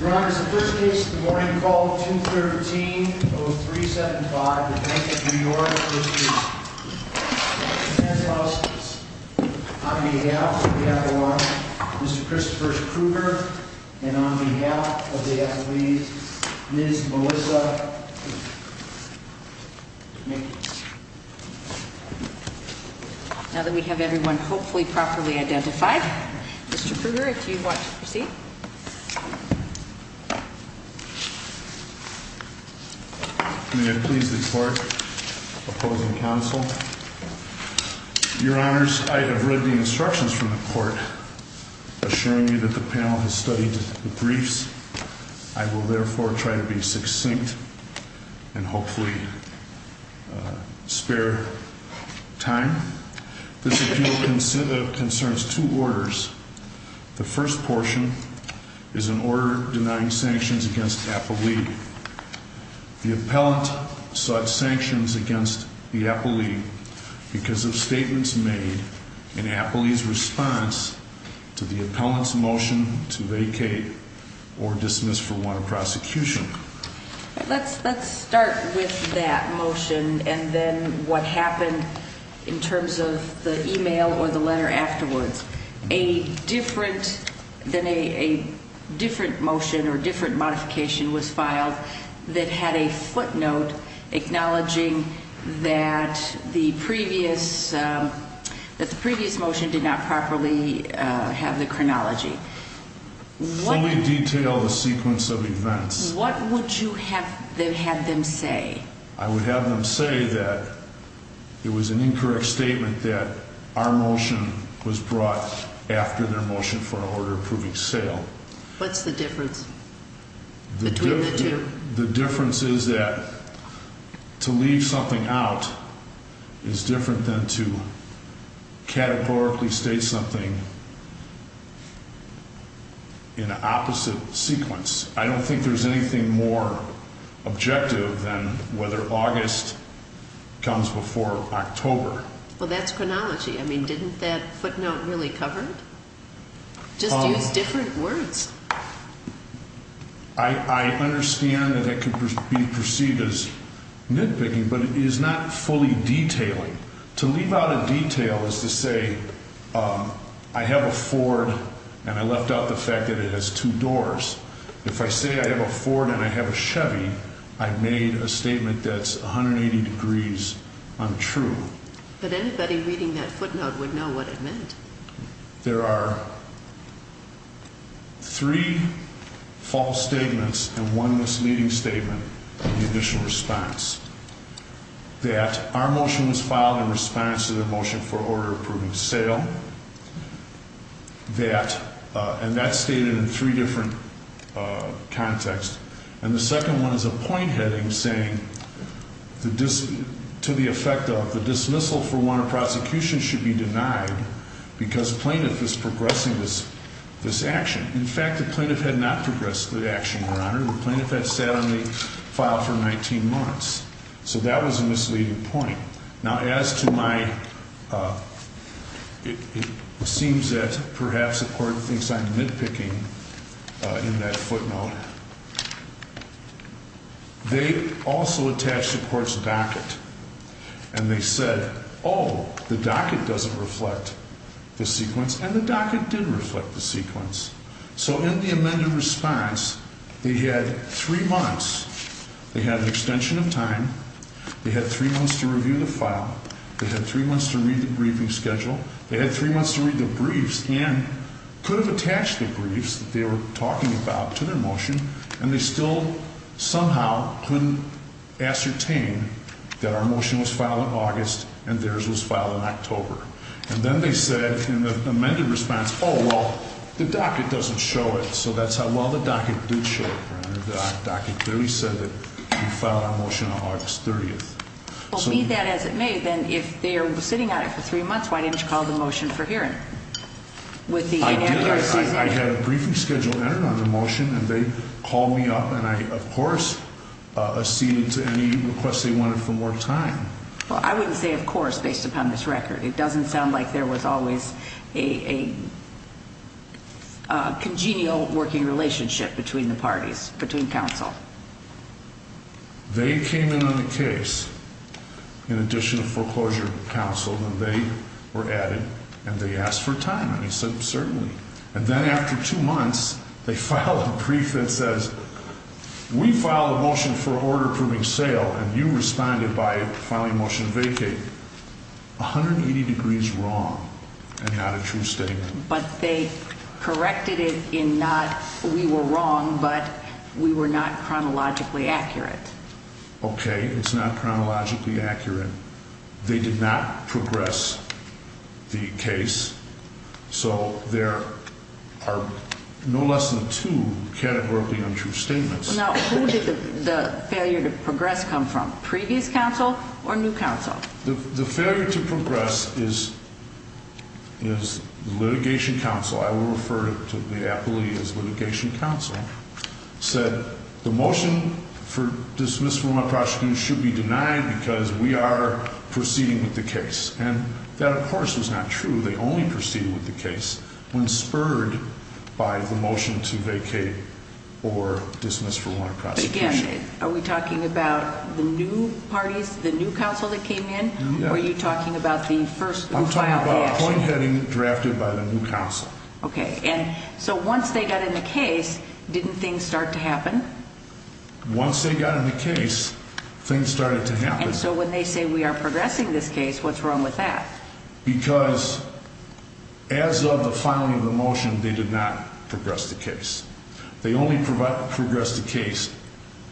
On behalf of the athlete, Mr. Christopher Krueger, and on behalf of the athlete, Ms. Melissa McKenzie. Now that we have everyone hopefully properly identified, Mr. Krueger, if you'd like to proceed. May I please report opposing counsel? Your honors, I have read the instructions from the court, assuring me that the panel has studied the briefs. I will therefore try to be succinct and hopefully spare time. This appeal concerns two orders. The first portion is an order denying sanctions against the athlete. The appellant sought sanctions against the athlete because of statements made in the athlete's response to the appellant's motion to vacate or dismiss for want of prosecution. Let's start with that motion and then what happened in terms of the email or the letter afterwards. A different motion or different modification was filed that had a footnote acknowledging that the previous motion did not properly have the chronology. Fully detail the sequence of events. What would you have them say? I would have them say that it was an incorrect statement that our motion was brought after their motion for an order approving sale. What's the difference between the two? The difference is that to leave something out is different than to categorically state something in an opposite sequence. I don't think there's anything more objective than whether August comes before October. Well, that's chronology. I mean, didn't that footnote really cover it? Just use different words. I understand that it could be perceived as nitpicking, but it is not fully detailing. To leave out a detail is to say I have a Ford and I left out the fact that it has two doors. If I say I have a Ford and I have a Chevy, I've made a statement that's 180 degrees untrue. But anybody reading that footnote would know what it meant. There are three false statements and one misleading statement in the initial response. That our motion was filed in response to the motion for order approving sale. And that's stated in three different contexts. And the second one is a point heading saying to the effect of the dismissal for warrant of prosecution should be denied because plaintiff is progressing this action. In fact, the plaintiff had not progressed the action, Your Honor. The plaintiff had sat on the file for 19 months. So that was a misleading point. Now, as to my. It seems that perhaps the court thinks I'm nitpicking in that footnote. They also attached the court's docket. And they said, oh, the docket doesn't reflect the sequence and the docket did reflect the sequence. So in the amended response, they had three months. They had an extension of time. They had three months to review the file. They had three months to read the briefing schedule. They had three months to read the briefs and could have attached the briefs that they were talking about to their motion. And they still somehow couldn't ascertain that our motion was filed in August and theirs was filed in October. And then they said in the amended response, oh, well, the docket doesn't show it. So that's how well the docket did show it. The docket clearly said that we filed our motion on August 30th. Well, read that as it may. Then if they are sitting on it for three months, why didn't you call the motion for hearing? I did. I had a briefing schedule entered on the motion, and they called me up, and I, of course, acceded to any requests they wanted for more time. Well, I wouldn't say of course based upon this record. It doesn't sound like there was always a congenial working relationship between the parties, between counsel. They came in on the case in addition to foreclosure counsel, and they were added, and they asked for time, and he said certainly. And then after two months, they filed a brief that says we filed a motion for order approving sale, and you responded by filing a motion to vacate. 180 degrees wrong and not a true statement. But they corrected it in not we were wrong, but we were not chronologically accurate. Okay. It's not chronologically accurate. They did not progress the case. So there are no less than two categorically untrue statements. Now, who did the failure to progress come from, previous counsel or new counsel? The failure to progress is litigation counsel. I will refer to the appellee as litigation counsel, said the motion for dismissal of my prosecution should be denied because we are proceeding with the case. And that, of course, was not true. They only proceeded with the case when spurred by the motion to vacate or dismiss from our prosecution. Again, are we talking about the new parties, the new counsel that came in, or are you talking about the first who filed the action? I'm talking about a point heading drafted by the new counsel. Okay. And so once they got in the case, didn't things start to happen? Once they got in the case, things started to happen. And so when they say we are progressing this case, what's wrong with that? Because as of the filing of the motion, they did not progress the case. They only progressed the case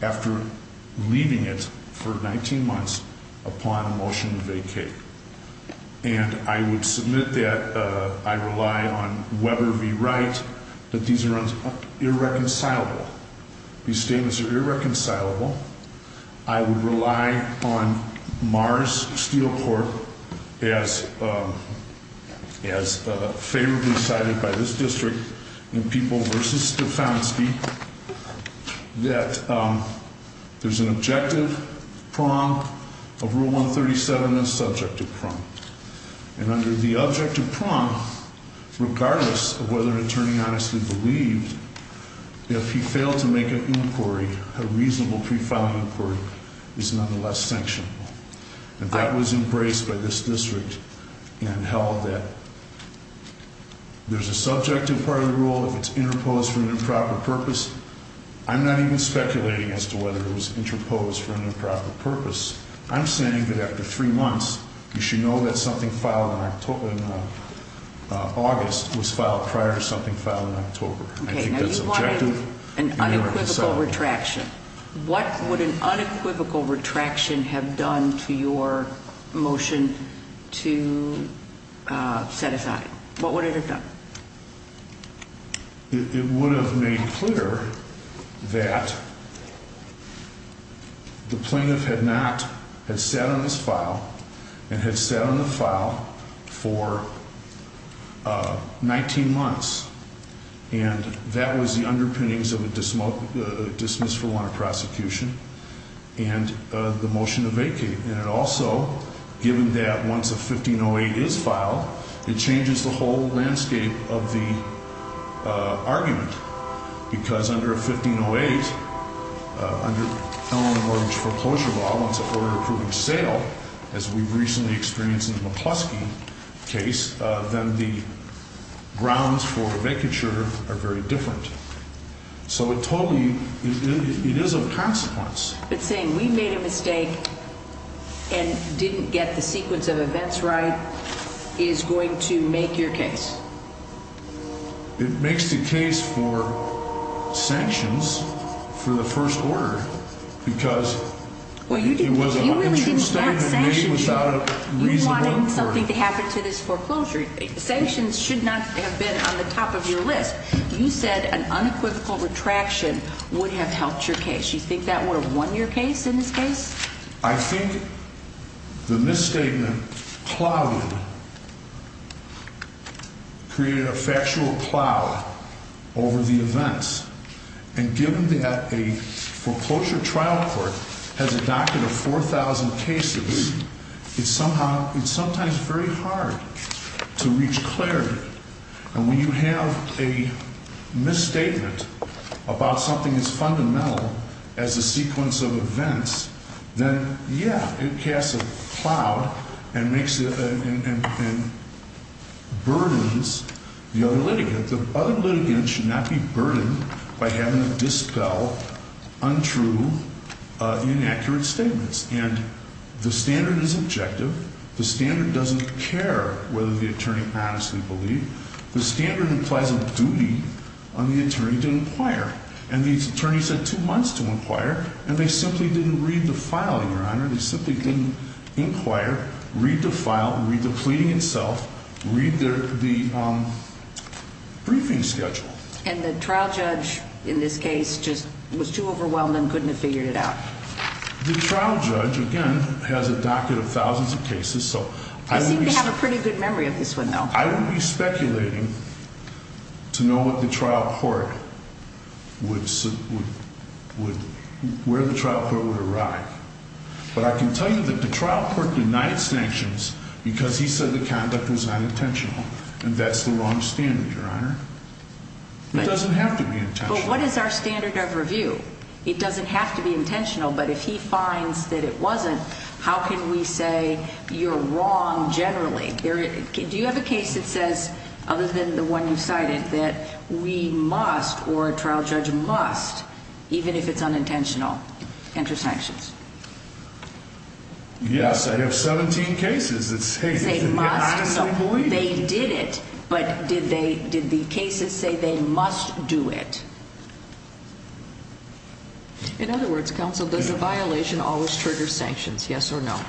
after leaving it for 19 months upon a motion to vacate. And I would submit that I rely on Weber v. Wright that these are irreconcilable. These statements are irreconcilable. I would rely on Mars Steelport as favorably cited by this district in People v. Stefanski that there's an objective prong of Rule 137 and a subjective prong. And under the objective prong, regardless of whether an attorney honestly believed, if he failed to make an inquiry, a reasonable pre-filing inquiry, is nonetheless sanctionable. And that was embraced by this district and held that there's a subjective part of the rule. If it's interposed for an improper purpose, I'm not even speculating as to whether it was interposed for an improper purpose. I'm saying that after three months, you should know that something filed in August was filed prior to something filed in October. Okay, now you wanted an unequivocal retraction. What would an unequivocal retraction have done to your motion to set aside? What would it have done? It would have made clear that the plaintiff had not, had sat on this file and had sat on the file for 19 months. And that was the underpinnings of a dismissal on a prosecution and the motion to vacate. And it also, given that once a 1508 is filed, it changes the whole landscape of the argument. Because under a 1508, under Eleanor Mortgage Foreclosure Law, once an order approving sale, as we've recently experienced in the McCluskey case, then the grounds for vacature are very different. So it totally, it is of consequence. But saying we made a mistake and didn't get the sequence of events right is going to make your case? It makes the case for sanctions for the first order. Because it was an untrue statement made without a reasonable... You wanted something to happen to this foreclosure. Sanctions should not have been on the top of your list. You said an unequivocal retraction would have helped your case. You think that would have won your case in this case? I think the misstatement clouded, created a factual cloud over the events. And given that a foreclosure trial court has adopted a 4,000 cases, it's somehow, it's sometimes very hard to reach clarity. And when you have a misstatement about something as fundamental as a sequence of events, then, yeah, it casts a cloud and makes it, and burdens the other litigant. The other litigant should not be burdened by having to dispel untrue, inaccurate statements. And the standard is objective. The standard doesn't care whether the attorney honestly believed. The standard implies a duty on the attorney to inquire. And the attorney said two months to inquire, and they simply didn't read the filing, Your Honor. They simply didn't inquire, read the file, read the pleading itself, read the briefing schedule. And the trial judge in this case just was too overwhelmed and couldn't have figured it out. The trial judge, again, has a docket of thousands of cases, so I would be speculating. You seem to have a pretty good memory of this one, though. I would be speculating to know what the trial court would, where the trial court would arrive. But I can tell you that the trial court denied sanctions because he said the conduct was unintentional. And that's the wrong standard, Your Honor. It doesn't have to be intentional. But what is our standard of review? It doesn't have to be intentional. But if he finds that it wasn't, how can we say you're wrong generally? Do you have a case that says, other than the one you cited, that we must, or a trial judge must, even if it's unintentional, enter sanctions? Yes, I have 17 cases that say that. They say must, so they did it, but did the cases say they must do it? In other words, counsel, does the violation always trigger sanctions, yes or no?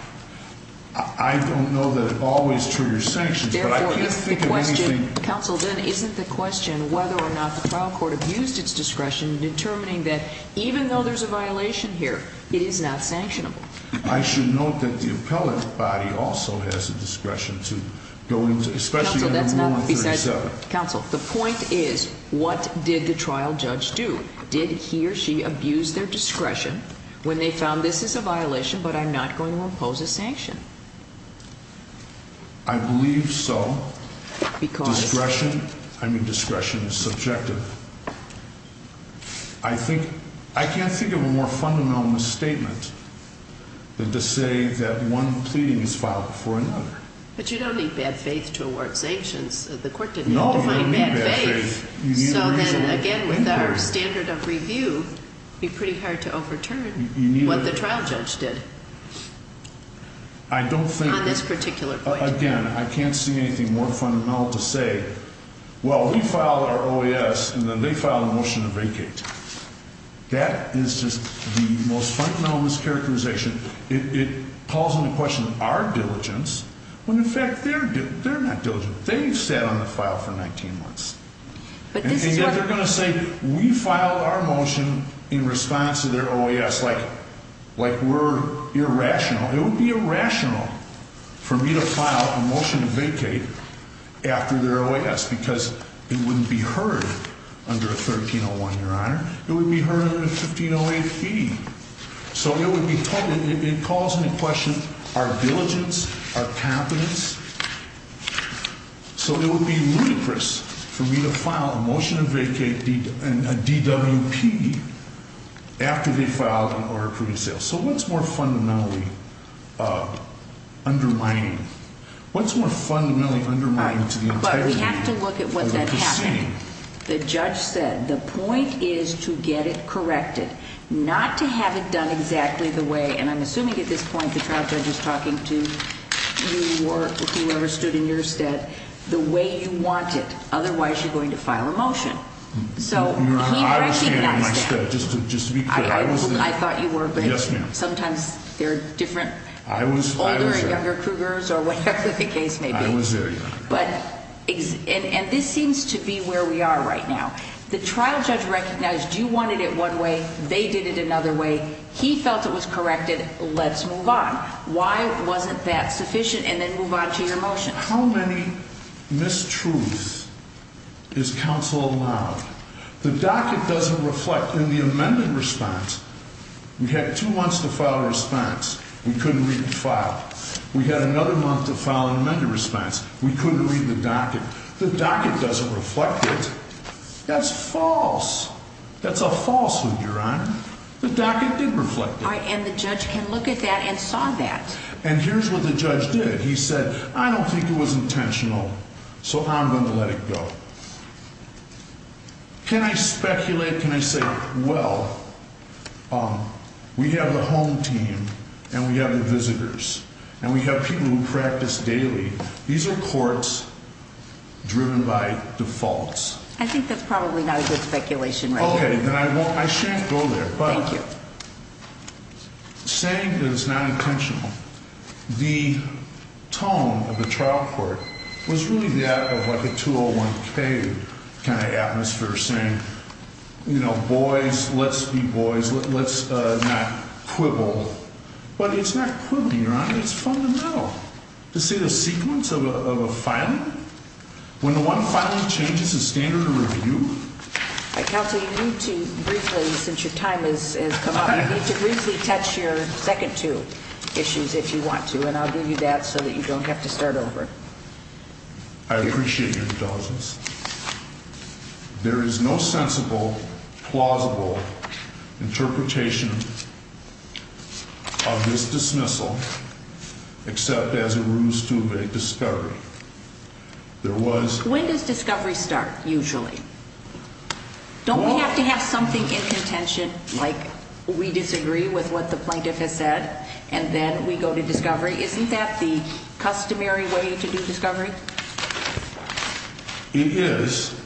I don't know that it always triggers sanctions, but I can't think of anything. Counsel, then, isn't the question whether or not the trial court abused its discretion in determining that, even though there's a violation here, it is not sanctionable? I should note that the appellate body also has a discretion to go into, especially on No. 137. Counsel, the point is, what did the trial judge do? Did he or she abuse their discretion when they found this is a violation, but I'm not going to impose a sanction? I believe so. Discretion is subjective. I can't think of a more fundamental misstatement than to say that one pleading is filed before another. But you don't need bad faith to award sanctions. The court didn't define bad faith, so then, again, with our standard of review, it would be pretty hard to overturn what the trial judge did on this particular point. I don't think, again, I can't see anything more fundamental to say, well, we filed our OAS, and then they filed a motion to vacate. That is just the most fundamental mischaracterization. It calls into question our diligence when, in fact, they're not diligent. They've sat on the file for 19 months. And yet they're going to say we filed our motion in response to their OAS, like we're irrational. It would be irrational for me to file a motion to vacate after their OAS because it wouldn't be heard under a 1301, Your Honor. It would be heard under a 1508 fee. So it would be totally, it calls into question our diligence, our competence. So it would be ludicrous for me to file a motion to vacate a DWP after they filed an order of criminal sale. So what's more fundamentally undermining? What's more fundamentally undermining to the integrity of the proceeding? But we have to look at what that happened. The judge said the point is to get it corrected, not to have it done exactly the way, and I'm assuming at this point the trial judge is talking to you or whoever stood in your stead, the way you want it. Otherwise, you're going to file a motion. So he might keep that step. No, I was there in my stead. Just to be clear, I was there. I thought you were. Yes, ma'am. But sometimes there are different older and younger Kruegers or whatever the case may be. I was there, Your Honor. And this seems to be where we are right now. The trial judge recognized you wanted it one way. They did it another way. He felt it was corrected. Let's move on. Why wasn't that sufficient? And then move on to your motion. How many mistruths is counsel allowed? The docket doesn't reflect in the amended response. We had two months to file a response. We couldn't read the file. We had another month to file an amended response. We couldn't read the docket. The docket doesn't reflect it. That's false. That's a falsehood, Your Honor. The docket did reflect it. All right. And the judge can look at that and saw that. And here's what the judge did. He said, I don't think it was intentional, so I'm going to let it go. Can I speculate? Can I say, well, we have the home team and we have the visitors and we have people who practice daily. These are courts driven by defaults. I think that's probably not a good speculation right now. Okay. Then I won't. I shan't go there. Thank you. But saying that it's not intentional, the tone of the trial court was really that of like a 201K kind of atmosphere saying, you know, boys, let's be boys. Let's not quibble. But it's not quibbling, Your Honor. It's fundamental. To see the sequence of a filing, when the one filing changes the standard of review. Counsel, you need to briefly, since your time has come up, you need to briefly touch your second two issues if you want to. And I'll give you that so that you don't have to start over. I appreciate your indulgence. There is no sensible, plausible interpretation of this dismissal except as a ruse to evade discovery. There was. When does discovery start usually? Don't we have to have something in contention like we disagree with what the plaintiff has said and then we go to discovery? Isn't that the customary way to do discovery? It is.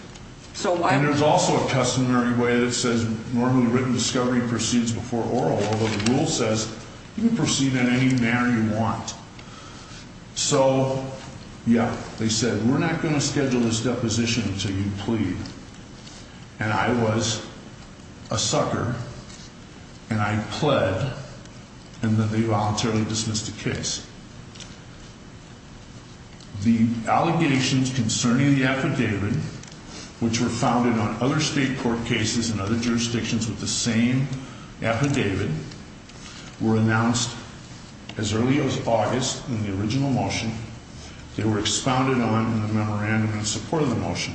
And there's also a customary way that says normally written discovery proceeds before oral, although the rule says you can proceed in any manner you want. So, yeah, they said we're not going to schedule this deposition until you plead. And I was a sucker. And I pled. And then they voluntarily dismissed the case. The allegations concerning the affidavit, which were founded on other state court cases in other jurisdictions with the same affidavit, were announced as early as August in the original motion. They were expounded on in the memorandum in support of the motion.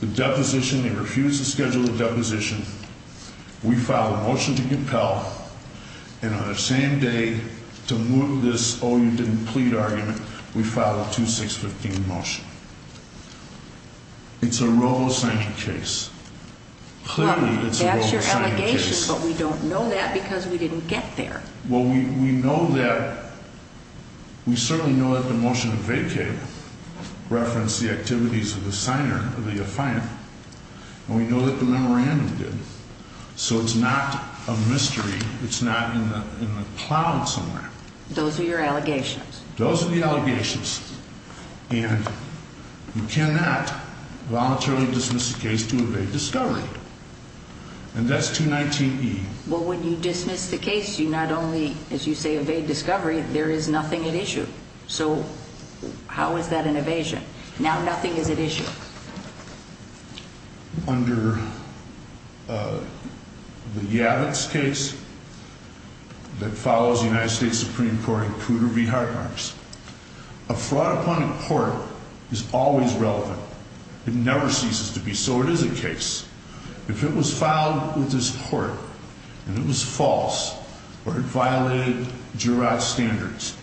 The deposition, they refused to schedule the deposition. We filed a motion to compel, and on the same day to move this oh, you didn't plead argument, we filed a 2-6-15 motion. It's a robo-signing case. Clearly, it's a robo-signing case. That's your allegation, but we don't know that because we didn't get there. Well, we know that we certainly know that the motion vacated referenced the activities of the signer of the affiant, and we know that the memorandum did. So it's not a mystery. It's not in the cloud somewhere. Those are your allegations. Those are the allegations. And you cannot voluntarily dismiss a case to evade discovery. And that's 2-19-E. Well, when you dismiss the case, you not only, as you say, evade discovery, there is nothing at issue. So how is that an evasion? Now nothing is at issue. Under the Yavitz case that follows the United States Supreme Court in Cooter v. Hartmarks, a fraud upon a court is always relevant. It never ceases to be. So it is a case. If it was filed with this court and it was false or it violated Jurod standards,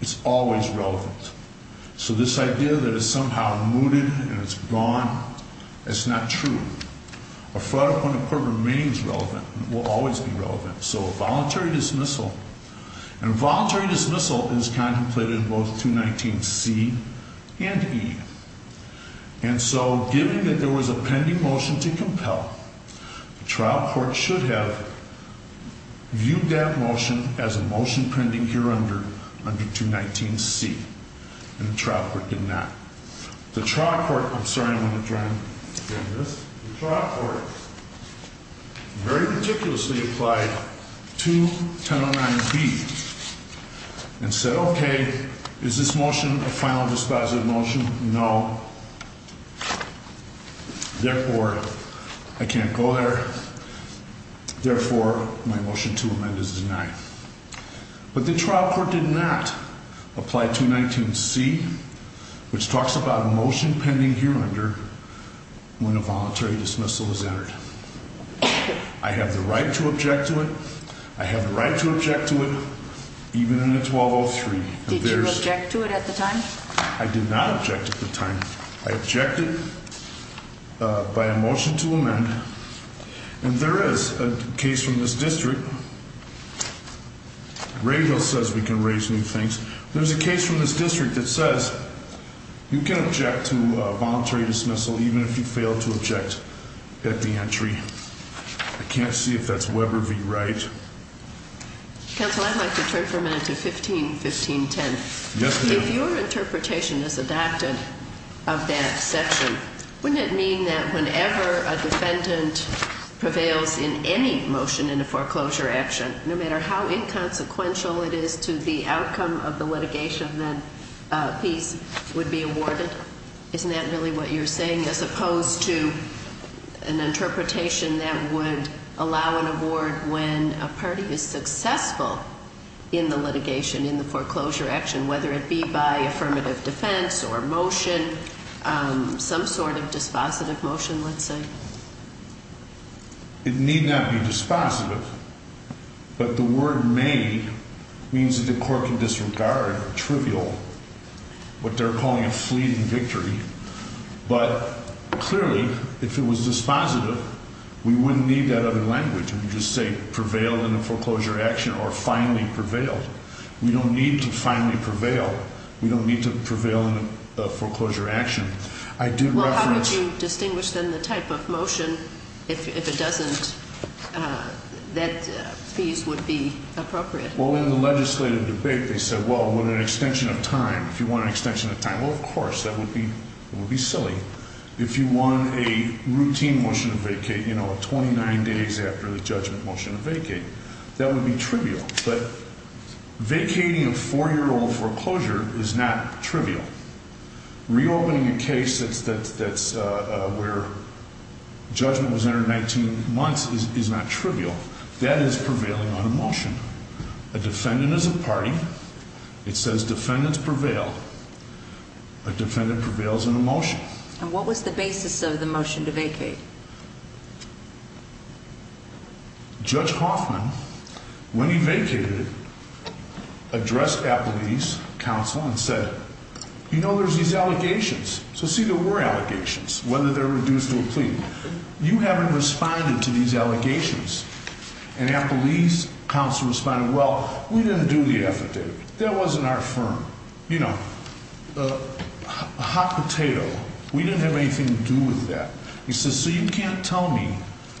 it's always relevant. So this idea that it's somehow mooted and it's gone, that's not true. A fraud upon a court remains relevant and will always be relevant. So a voluntary dismissal, and a voluntary dismissal is contemplated in both 2-19-C and E. And so given that there was a pending motion to compel, the trial court should have viewed that motion as a motion pending here under 2-19-C. And the trial court did not. The trial court, I'm sorry, I'm going to try and get this. The trial court very meticulously applied 2-1009-B and said, okay, is this motion a final dispositive motion? No. Therefore, I can't go there. Therefore, my motion to amend is denied. But the trial court did not apply 2-19-C, which talks about a motion pending here under when a voluntary dismissal is entered. I have the right to object to it. I have the right to object to it, even in the 1203. Did you object to it at the time? I did not object at the time. I objected by a motion to amend. And there is a case from this district. Regal says we can raise new things. There's a case from this district that says you can object to a voluntary dismissal even if you fail to object at the entry. I can't see if that's Weber v. Wright. Counsel, I'd like to turn for a minute to 15-15-10. Yes, ma'am. If your interpretation is adopted of that section, wouldn't it mean that whenever a defendant prevails in any motion in a foreclosure action, no matter how inconsequential it is to the outcome of the litigation, that piece would be awarded? Isn't that really what you're saying? As opposed to an interpretation that would allow an award when a party is successful in the litigation, in the foreclosure action, whether it be by affirmative defense or motion, some sort of dispositive motion, let's say? It need not be dispositive. But the word may means that the court can disregard, trivial, what they're calling a fleeting victory. But clearly, if it was dispositive, we wouldn't need that other language. We would just say prevail in a foreclosure action or finally prevail. We don't need to finally prevail. We don't need to prevail in a foreclosure action. Well, how would you distinguish, then, the type of motion, if it doesn't, that these would be appropriate? Well, in the legislative debate, they said, well, with an extension of time. If you want an extension of time, well, of course. That would be silly. If you want a routine motion to vacate, you know, 29 days after the judgment motion to vacate, that would be trivial. But vacating a 4-year-old foreclosure is not trivial. Reopening a case that's where judgment was entered 19 months is not trivial. That is prevailing on a motion. A defendant is a party. It says defendants prevail. A defendant prevails in a motion. And what was the basis of the motion to vacate? Judge Hoffman, when he vacated it, addressed Applebee's counsel and said, you know, there's these allegations. So, see, there were allegations, whether they're reduced to a plea. You haven't responded to these allegations. And Applebee's counsel responded, well, we didn't do the affidavit. That wasn't our firm. You know, a hot potato. We didn't have anything to do with that. He says, so you can't tell me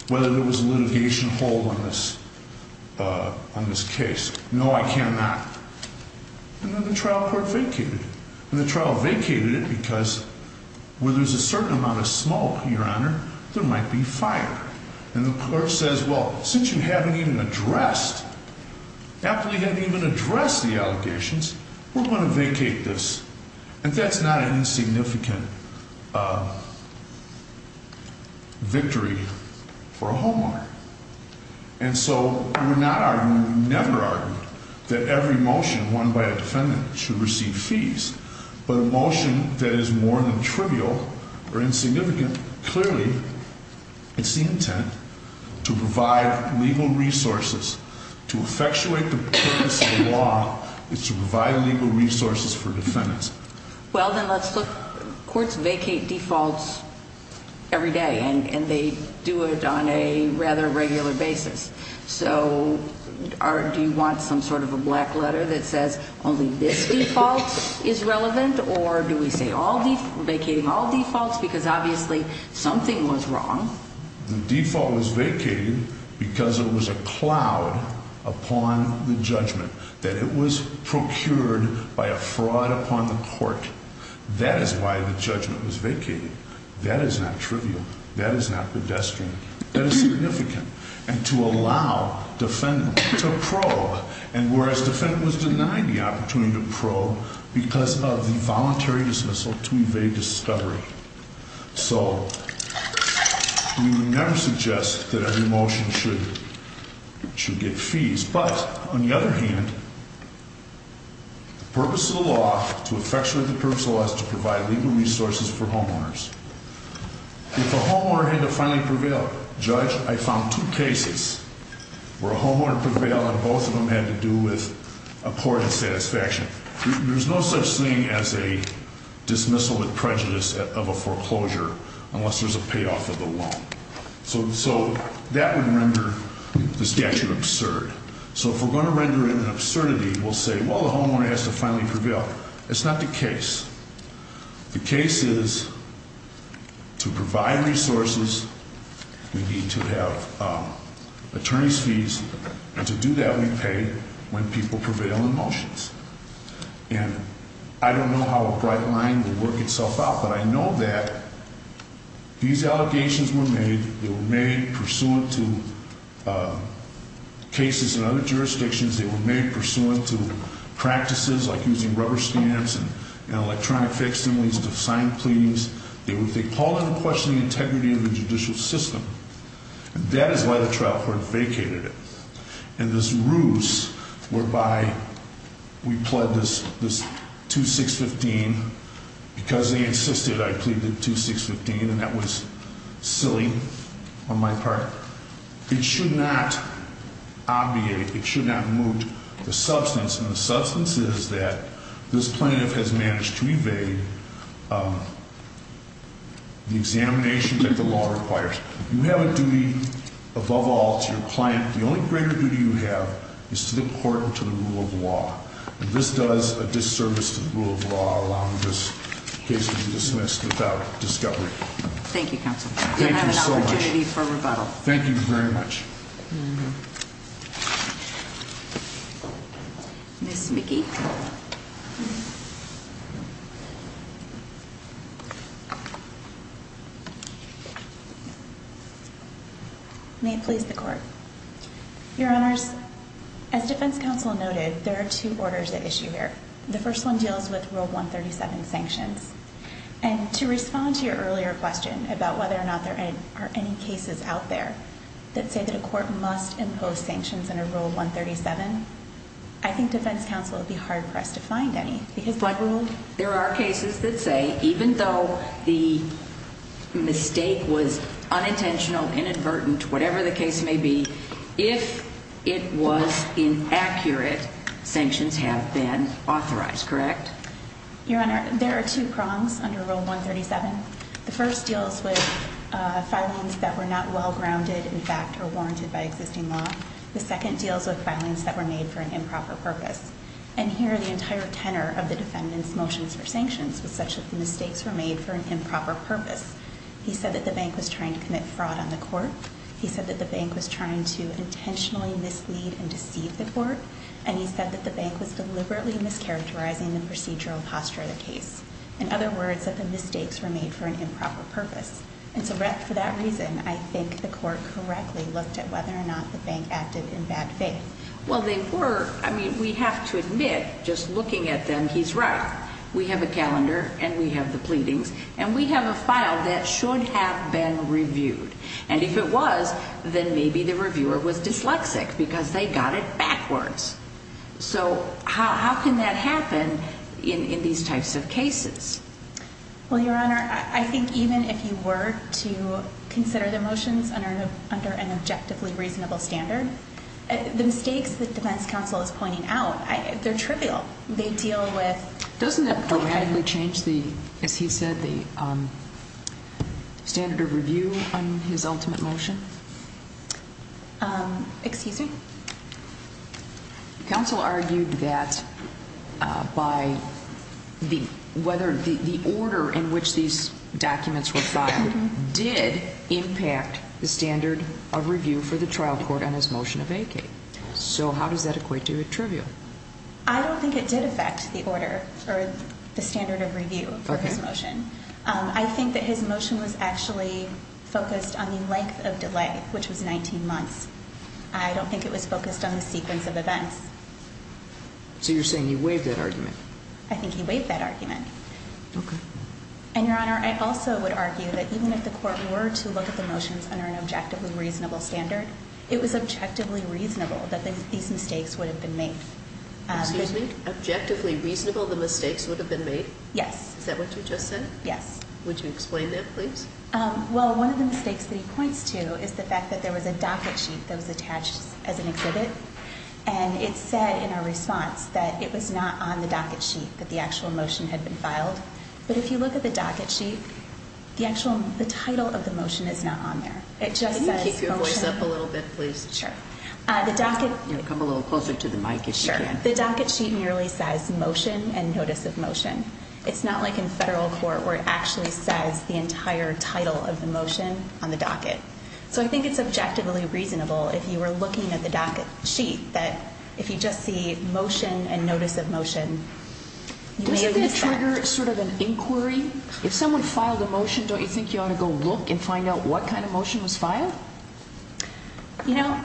whether there was a litigation hold on this case. No, I cannot. And then the trial court vacated. And the trial vacated it because where there's a certain amount of smoke, Your Honor, there might be fire. And the clerk says, well, since you haven't even addressed, Applebee didn't even address the allegations, we're going to vacate this. And that's not an insignificant victory for a homeowner. And so we're not arguing, never arguing, that every motion won by a defendant should receive fees. But a motion that is more than trivial or insignificant, clearly, it's the intent to provide legal resources. To effectuate the purpose of the law is to provide legal resources for defendants. Well, then let's look. Courts vacate defaults every day. And they do it on a rather regular basis. So do you want some sort of a black letter that says only this default is relevant? Or do we say vacating all defaults because obviously something was wrong? The default was vacated because it was a cloud upon the judgment that it was procured by a fraud upon the court. That is why the judgment was vacated. That is not trivial. That is not pedestrian. That is significant. And to allow defendants to probe, and whereas defendant was denied the opportunity to probe because of the voluntary dismissal to evade discovery. So we would never suggest that every motion should get fees. But, on the other hand, the purpose of the law, to effectuate the purpose of the law, is to provide legal resources for homeowners. If a homeowner had to finally prevail, judge, I found two cases where a homeowner prevailed and both of them had to do with a court of satisfaction. There's no such thing as a dismissal with prejudice of a foreclosure unless there's a payoff of the loan. So that would render the statute absurd. So if we're going to render it an absurdity, we'll say, well, the homeowner has to finally prevail. It's not the case. The case is to provide resources, we need to have attorney's fees. And to do that, we pay when people prevail in motions. And I don't know how a bright line will work itself out, but I know that these allegations were made. They were made pursuant to cases in other jurisdictions. They were made pursuant to practices like using rubber stamps and electronic fencing, these assigned pleadings. They call into question the integrity of the judicial system. That is why the trial court vacated it. And this ruse whereby we plead this 2615 because they insisted I plead the 2615 and that was silly on my part. It should not obviate, it should not move the substance. And the substance is that this plaintiff has managed to evade the examination that the law requires. You have a duty above all to your client. The only greater duty you have is to the court and to the rule of law. And this does a disservice to the rule of law, allowing this case to be dismissed without discovery. Thank you, counsel. Thank you so much. You'll have an opportunity for rebuttal. Thank you very much. Ms. McGee? May it please the court. Your Honors, as defense counsel noted, there are two orders at issue here. The first one deals with Rule 137 sanctions. And to respond to your earlier question about whether or not there are any cases out there that say that a court must impose sanctions under Rule 137, I think defense counsel would be hard pressed to find any. Because what rule? There are cases that say even though the mistake was unintentional, inadvertent, whatever the case may be, if it was inaccurate, sanctions have been authorized. Correct? Your Honor, there are two prongs under Rule 137. The first deals with filings that were not well grounded, in fact, or warranted by existing law. The second deals with filings that were made for an improper purpose. And here the entire tenor of the defendant's motions for sanctions was such that the mistakes were made for an improper purpose. He said that the bank was trying to commit fraud on the court. He said that the bank was trying to intentionally mislead and deceive the court. And he said that the bank was deliberately mischaracterizing the procedural posture of the case. In other words, that the mistakes were made for an improper purpose. And so for that reason, I think the court correctly looked at whether or not the bank acted in bad faith. Well, they were. I mean, we have to admit just looking at them, he's right. We have a calendar, and we have the pleadings, and we have a file that should have been reviewed. And if it was, then maybe the reviewer was dyslexic because they got it backwards. So how can that happen in these types of cases? Well, Your Honor, I think even if you were to consider the motions under an objectively reasonable standard, the mistakes that defense counsel is pointing out, they're trivial. They deal with a point of view. Doesn't that dramatically change the, as he said, the standard of review on his ultimate motion? Excuse me? Counsel argued that by whether the order in which these documents were filed did impact the standard of review for the trial court on his motion of AK. So how does that equate to a trivial? I don't think it did affect the order or the standard of review for his motion. I think that his motion was actually focused on the length of delay, which was 19 months. I don't think it was focused on the sequence of events. So you're saying he waived that argument? I think he waived that argument. Okay. And, Your Honor, I also would argue that even if the court were to look at the motions under an objectively reasonable standard, it was objectively reasonable that these mistakes would have been made. Excuse me? Objectively reasonable the mistakes would have been made? Yes. Is that what you just said? Yes. Would you explain that, please? Well, one of the mistakes that he points to is the fact that there was a docket sheet that was attached as an exhibit, and it said in our response that it was not on the docket sheet that the actual motion had been filed. But if you look at the docket sheet, the title of the motion is not on there. Can you keep your voice up a little bit, please? Sure. Come a little closer to the mic if you can. The docket sheet merely says motion and notice of motion. It's not like in federal court where it actually says the entire title of the motion on the docket. So I think it's objectively reasonable, if you were looking at the docket sheet, that if you just see motion and notice of motion, you may have used that. Doesn't that trigger sort of an inquiry? If someone filed a motion, don't you think you ought to go look and find out what kind of motion was filed? You know,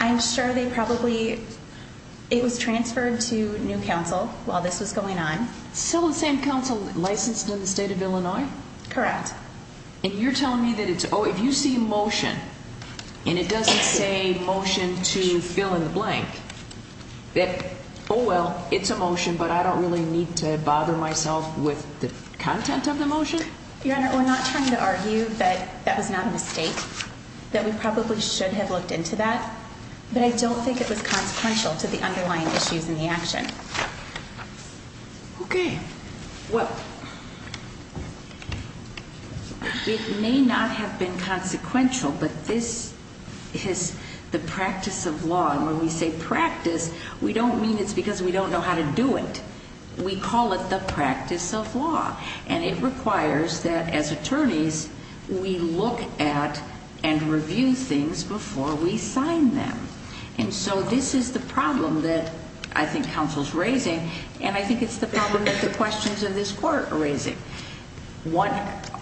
I'm sure they probably – it was transferred to new counsel while this was going on. So the same counsel licensed in the state of Illinois? Correct. And you're telling me that if you see a motion and it doesn't say motion to fill in the blank, that, oh, well, it's a motion, but I don't really need to bother myself with the content of the motion? Your Honor, we're not trying to argue that that was not a mistake, that we probably should have looked into that, but I don't think it was consequential to the underlying issues in the action. Okay. Well, it may not have been consequential, but this is the practice of law, and when we say practice, we don't mean it's because we don't know how to do it. We call it the practice of law, and it requires that, as attorneys, we look at and review things before we sign them. And so this is the problem that I think counsel's raising, and I think it's the problem that the questions in this court are raising.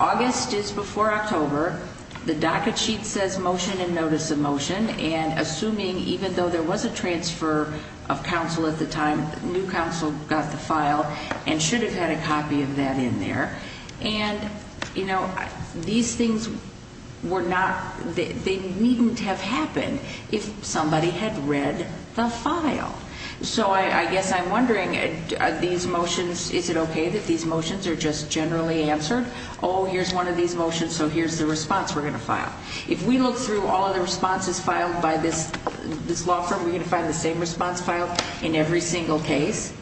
August is before October. The docket sheet says motion and notice of motion, and assuming even though there was a transfer of counsel at the time, new counsel got the file and should have had a copy of that in there, and, you know, these things were not, they wouldn't have happened if somebody had read the file. So I guess I'm wondering, are these motions, is it okay that these motions are just generally answered? Oh, here's one of these motions, so here's the response we're going to file. If we look through all of the responses filed by this law firm, we're going to find the same response filed in every single case,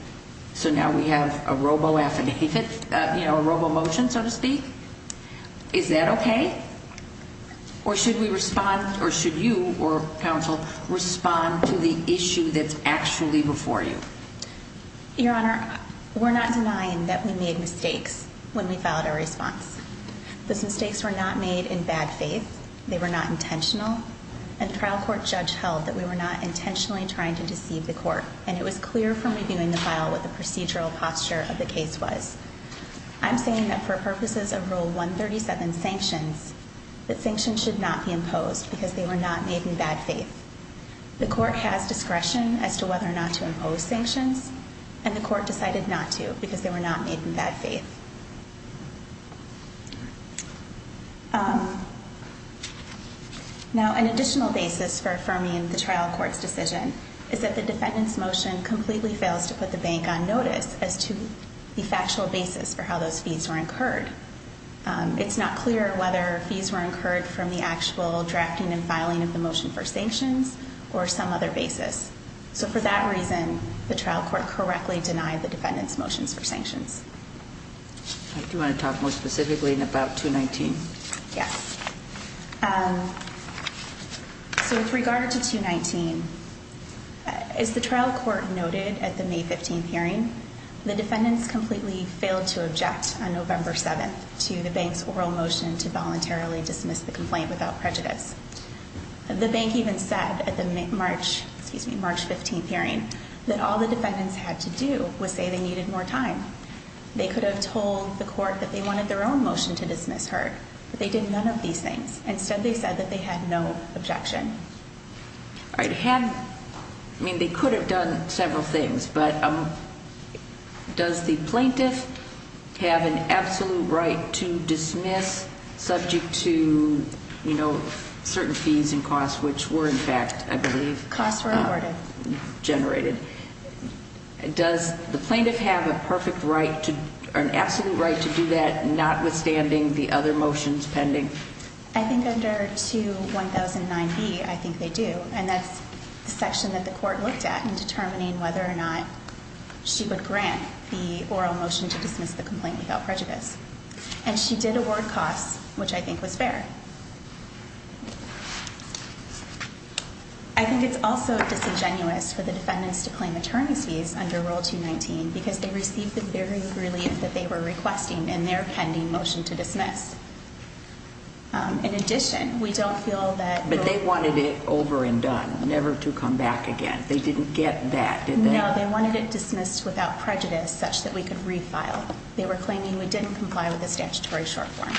so now we have a robo-affidavit, you know, a robo-motion, so to speak. Is that okay? Or should we respond, or should you, or counsel, respond to the issue that's actually before you? Your Honor, we're not denying that we made mistakes when we filed our response. Those mistakes were not made in bad faith. They were not intentional, and the trial court judge held that we were not intentionally trying to deceive the court, and it was clear from reviewing the file what the procedural posture of the case was. I'm saying that for purposes of Rule 137 sanctions, that sanctions should not be imposed because they were not made in bad faith. The court has discretion as to whether or not to impose sanctions, and the court decided not to because they were not made in bad faith. Now, an additional basis for affirming the trial court's decision is that the defendant's motion completely fails to put the bank on notice as to the factual basis for how those fees were incurred. It's not clear whether fees were incurred from the actual drafting and filing of the motion for sanctions or some other basis. So for that reason, the trial court correctly denied the defendant's motions for sanctions. Do you want to talk more specifically about 219? Yes. So with regard to 219, as the trial court noted at the May 15th hearing, the defendants completely failed to object on November 7th to the bank's oral motion to voluntarily dismiss the complaint without prejudice. The bank even said at the March 15th hearing that all the defendants had to do was say they needed more time. They could have told the court that they wanted their own motion to dismiss her, but they did none of these things. Instead, they said that they had no objection. They could have done several things, but does the plaintiff have an absolute right to dismiss subject to certain fees and costs, which were in fact, I believe, generated? Costs were awarded. Does the plaintiff have an absolute right to do that, notwithstanding the other motions pending? I think under 2109B, I think they do, and that's the section that the court looked at in determining whether or not she would grant the oral motion to dismiss the complaint without prejudice. And she did award costs, which I think was fair. I think it's also disingenuous for the defendants to claim attorneys fees under Rule 219 because they received the very relief that they were requesting in their pending motion to dismiss. In addition, we don't feel that... But they wanted it over and done, never to come back again. They didn't get that, did they? No, they wanted it dismissed without prejudice such that we could refile. They were claiming we didn't comply with the statutory short form.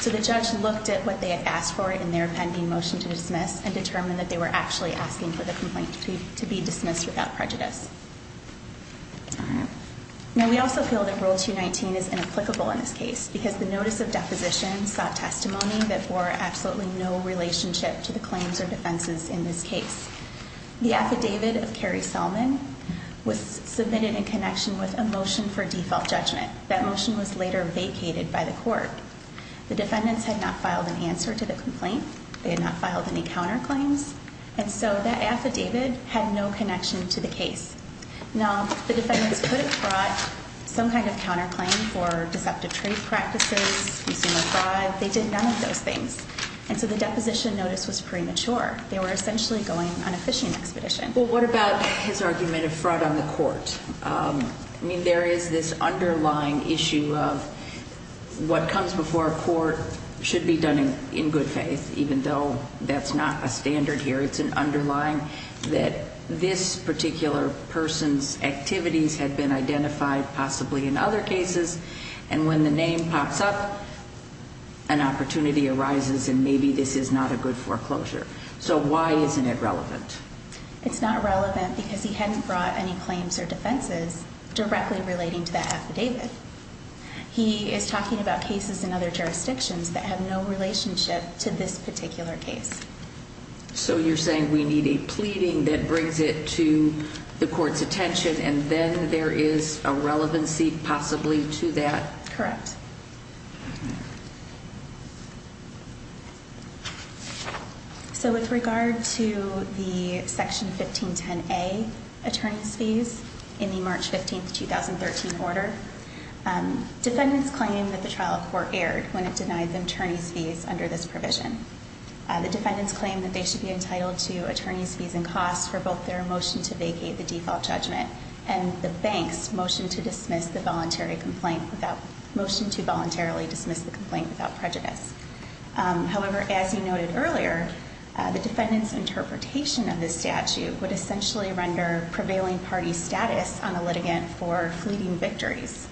So the judge looked at what they had asked for in their pending motion to dismiss and determined that they were actually asking for the complaint to be dismissed without prejudice. All right. Now, we also feel that Rule 219 is inapplicable in this case because the notice of deposition sought testimony that bore absolutely no relationship to the claims or defenses in this case. The affidavit of Carrie Selman was submitted in connection with a motion for default judgment. That motion was later vacated by the court. The defendants had not filed an answer to the complaint. They had not filed any counterclaims. And so that affidavit had no connection to the case. Now, the defendants could have brought some kind of counterclaim for deceptive trade practices, consumer fraud. They did none of those things. And so the deposition notice was premature. They were essentially going on a fishing expedition. Well, what about his argument of fraud on the court? I mean, there is this underlying issue of what comes before a court should be done in good faith, even though that's not a standard here. It's an underlying that this particular person's activities had been identified possibly in other cases. And when the name pops up, an opportunity arises, and maybe this is not a good foreclosure. So why isn't it relevant? It's not relevant because he hadn't brought any claims or defenses directly relating to that affidavit. He is talking about cases in other jurisdictions that have no relationship to this particular case. So you're saying we need a pleading that brings it to the court's attention, and then there is a relevancy possibly to that? Correct. So with regard to the Section 1510A attorney's fees in the March 15, 2013, order, defendants claim that the trial court erred when it denied the attorney's fees under this provision. The defendants claim that they should be entitled to attorney's fees and costs for both their motion to vacate the default judgment and the bank's motion to voluntarily dismiss the complaint without prejudice. However, as you noted earlier, the defendant's interpretation of this statute would essentially render prevailing party status on a litigant for fleeting victories.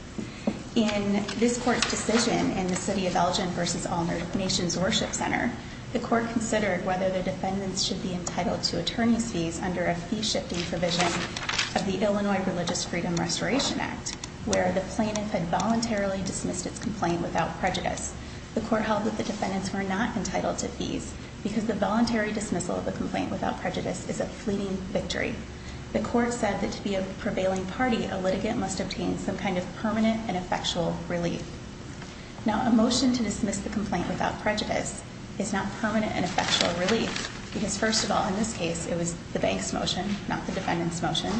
In this court's decision in the City of Elgin v. All Nations Worship Center, the court considered whether the defendants should be entitled to attorney's fees under a fee-shifting provision of the Illinois Religious Freedom Restoration Act, where the plaintiff had voluntarily dismissed its complaint without prejudice. The court held that the defendants were not entitled to fees because the voluntary dismissal of a complaint without prejudice is a fleeting victory. The court said that to be a prevailing party, a litigant must obtain some kind of permanent and effectual relief. Now, a motion to dismiss the complaint without prejudice is not permanent and effectual relief because, first of all, in this case, it was the bank's motion, not the defendant's motion,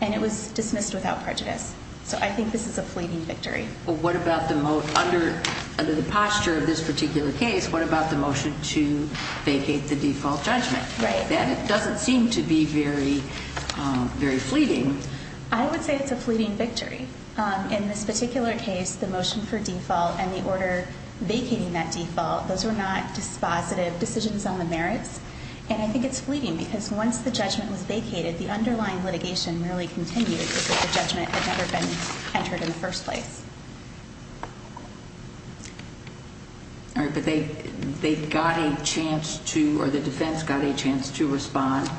and it was dismissed without prejudice. So I think this is a fleeting victory. Well, what about under the posture of this particular case, what about the motion to vacate the default judgment? Right. It doesn't seem to be very fleeting. I would say it's a fleeting victory. In this particular case, the motion for default and the order vacating that default, those were not dispositive decisions on the merits, and I think it's fleeting because once the judgment was vacated, the underlying litigation really continued because the judgment had never been entered in the first place. All right. But they got a chance to, or the defense got a chance to respond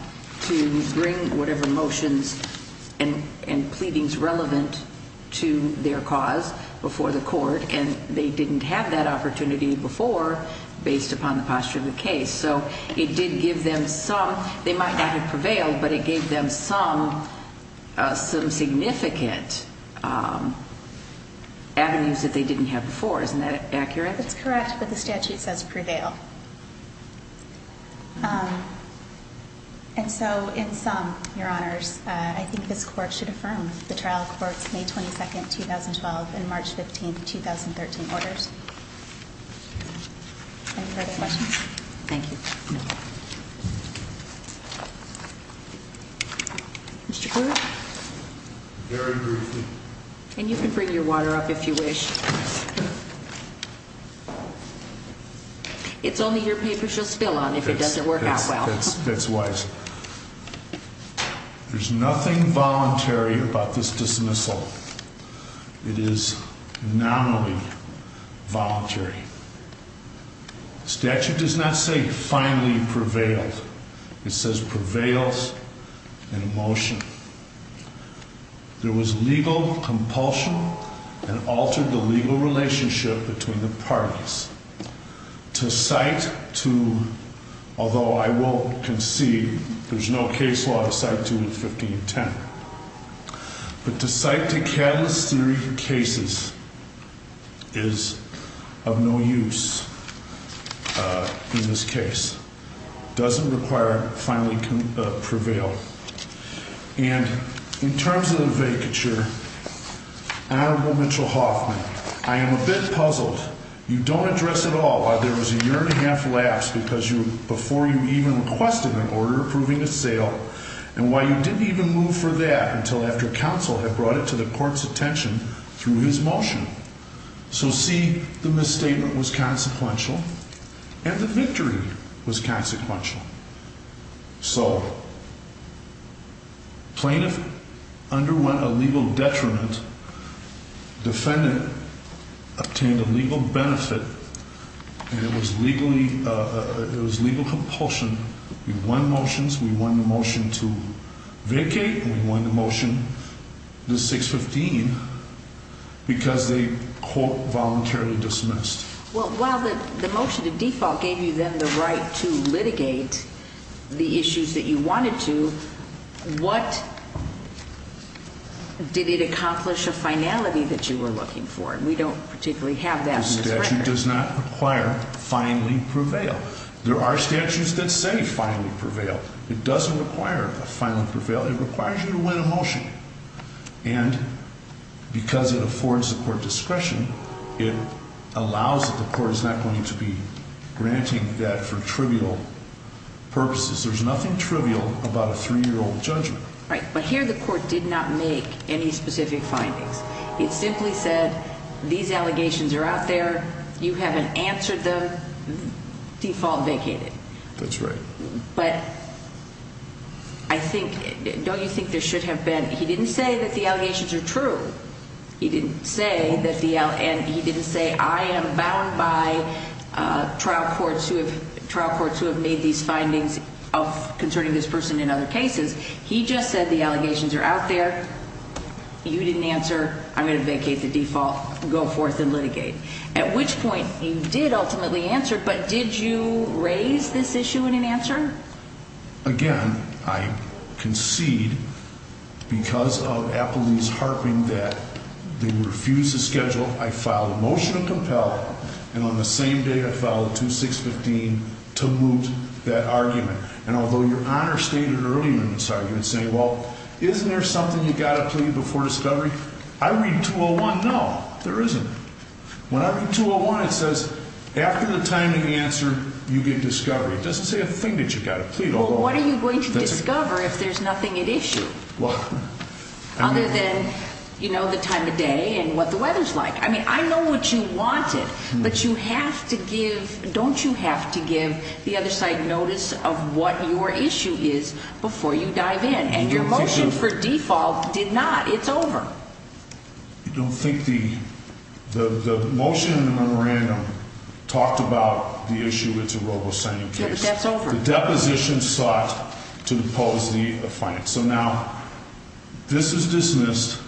to bring whatever motions and pleadings relevant to their cause before the court, and they didn't have that opportunity before based upon the posture of the case. So it did give them some. They might not have prevailed, but it gave them some significant avenues that they didn't have before. Isn't that accurate? That's correct, but the statute says prevail. And so in sum, Your Honors, I think this court should affirm the trial court's May 22, 2012 and March 15, 2013 orders. Any further questions? Thank you. No. Mr. Corwin. Very briefly. And you can bring your water up if you wish. It's only your paper she'll spill on if it doesn't work out well. That's wise. There's nothing voluntary about this dismissal. It is nominally voluntary. The statute does not say finally prevailed. It says prevails in a motion. There was legal compulsion and altered the legal relationship between the parties. To cite to, although I won't concede, there's no case law to cite to in 1510, but to cite to catalyst theory for cases is of no use in this case. Doesn't require finally prevail. And in terms of the vacature, Honorable Mitchell Hoffman, I am a bit puzzled. You don't address at all why there was a year and a half lapse before you even requested an order approving a sale and why you didn't even move for that until after counsel had brought it to the court's attention through his motion. So see, the misstatement was consequential and the victory was consequential. So plaintiff underwent a legal detriment. Defendant obtained a legal benefit and it was legal compulsion. We won motions. We won the motion to vacate. We won the motion to 615 because they quote voluntarily dismissed. Well, while the motion to default gave you then the right to litigate the issues that you wanted to, what did it accomplish a finality that you were looking for? And we don't particularly have that. The statute does not require finally prevail. There are statutes that say finally prevail. It doesn't require a finally prevail. It requires you to win a motion. And because it affords the court discretion, it allows that the court is not going to be granting that for trivial purposes. There's nothing trivial about a 3-year-old judgment. Right, but here the court did not make any specific findings. It simply said these allegations are out there. You haven't answered them. Default vacated. That's right. But I think, don't you think there should have been, he didn't say that the allegations are true. He didn't say that the, and he didn't say I am bound by trial courts who have made these findings of concerning this person in other cases. He just said the allegations are out there. You didn't answer. I'm going to vacate the default. Go forth and litigate. At which point he did ultimately answer, but did you raise this issue in an answer? Again, I concede because of Appleby's harping that they would refuse to schedule. I filed a motion to compel, and on the same day I filed a 2615 to moot that argument. And although Your Honor stated earlier in this argument saying, well, isn't there something you've got to plead before discovery? I read 201, no. There isn't. When I read 201, it says after the time of the answer, you get discovery. It doesn't say a thing that you've got to plead. Well, what are you going to discover if there's nothing at issue? Well, I mean. Other than, you know, the time of day and what the weather's like. I mean, I know what you wanted, but you have to give, don't you have to give the other side notice of what your issue is before you dive in. And your motion for default did not. It's over. I don't think the motion in the memorandum talked about the issue. It's a Robo signing case. That's over. The deposition sought to impose the offense. So now this is dismissed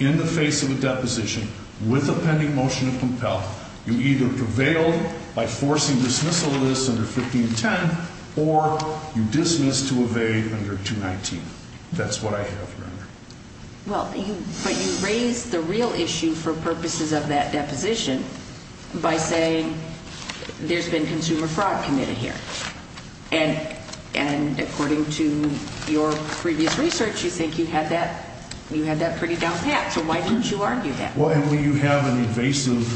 in the face of a deposition with a pending motion to compel. You either prevail by forcing dismissal of this under 1510, or you dismiss to evade under 219. That's what I have, Your Honor. Well, but you raised the real issue for purposes of that deposition by saying there's been consumer fraud committed here. And according to your previous research, you think you had that pretty down pat. So why didn't you argue that? Well, and when you have an invasive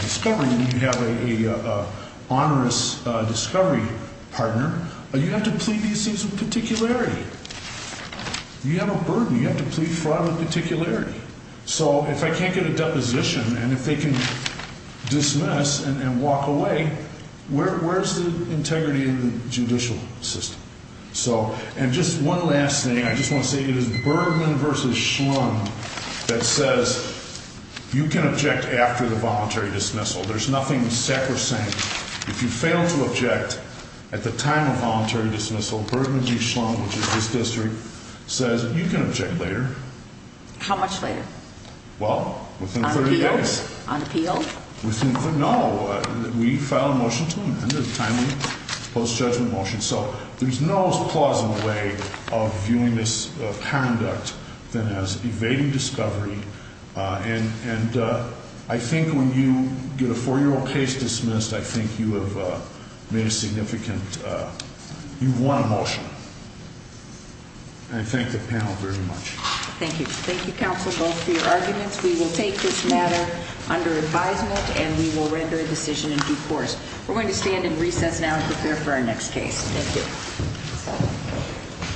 discovery, when you have an onerous discovery partner, you have to plead these things with particularity. You have a burden. You have to plead fraud with particularity. So if I can't get a deposition and if they can dismiss and walk away, where's the integrity of the judicial system? And just one last thing. I just want to say it is Bergman v. Schlund that says you can object after the voluntary dismissal. There's nothing sacrosanct. If you fail to object at the time of voluntary dismissal, Bergman v. Schlund, which is this district, says you can object later. How much later? Well, within 30 days. On appeal? No. We file a motion to amend it timely, post-judgment motion. So there's no more plausible way of viewing this conduct than as evading discovery. And I think when you get a 4-year-old case dismissed, I think you have made a significant, you've won a motion. And I thank the panel very much. Thank you. Thank you, counsel, both for your arguments. We will take this matter under advisement and we will render a decision in due course. We're going to stand in recess now and prepare for our next case. Thank you.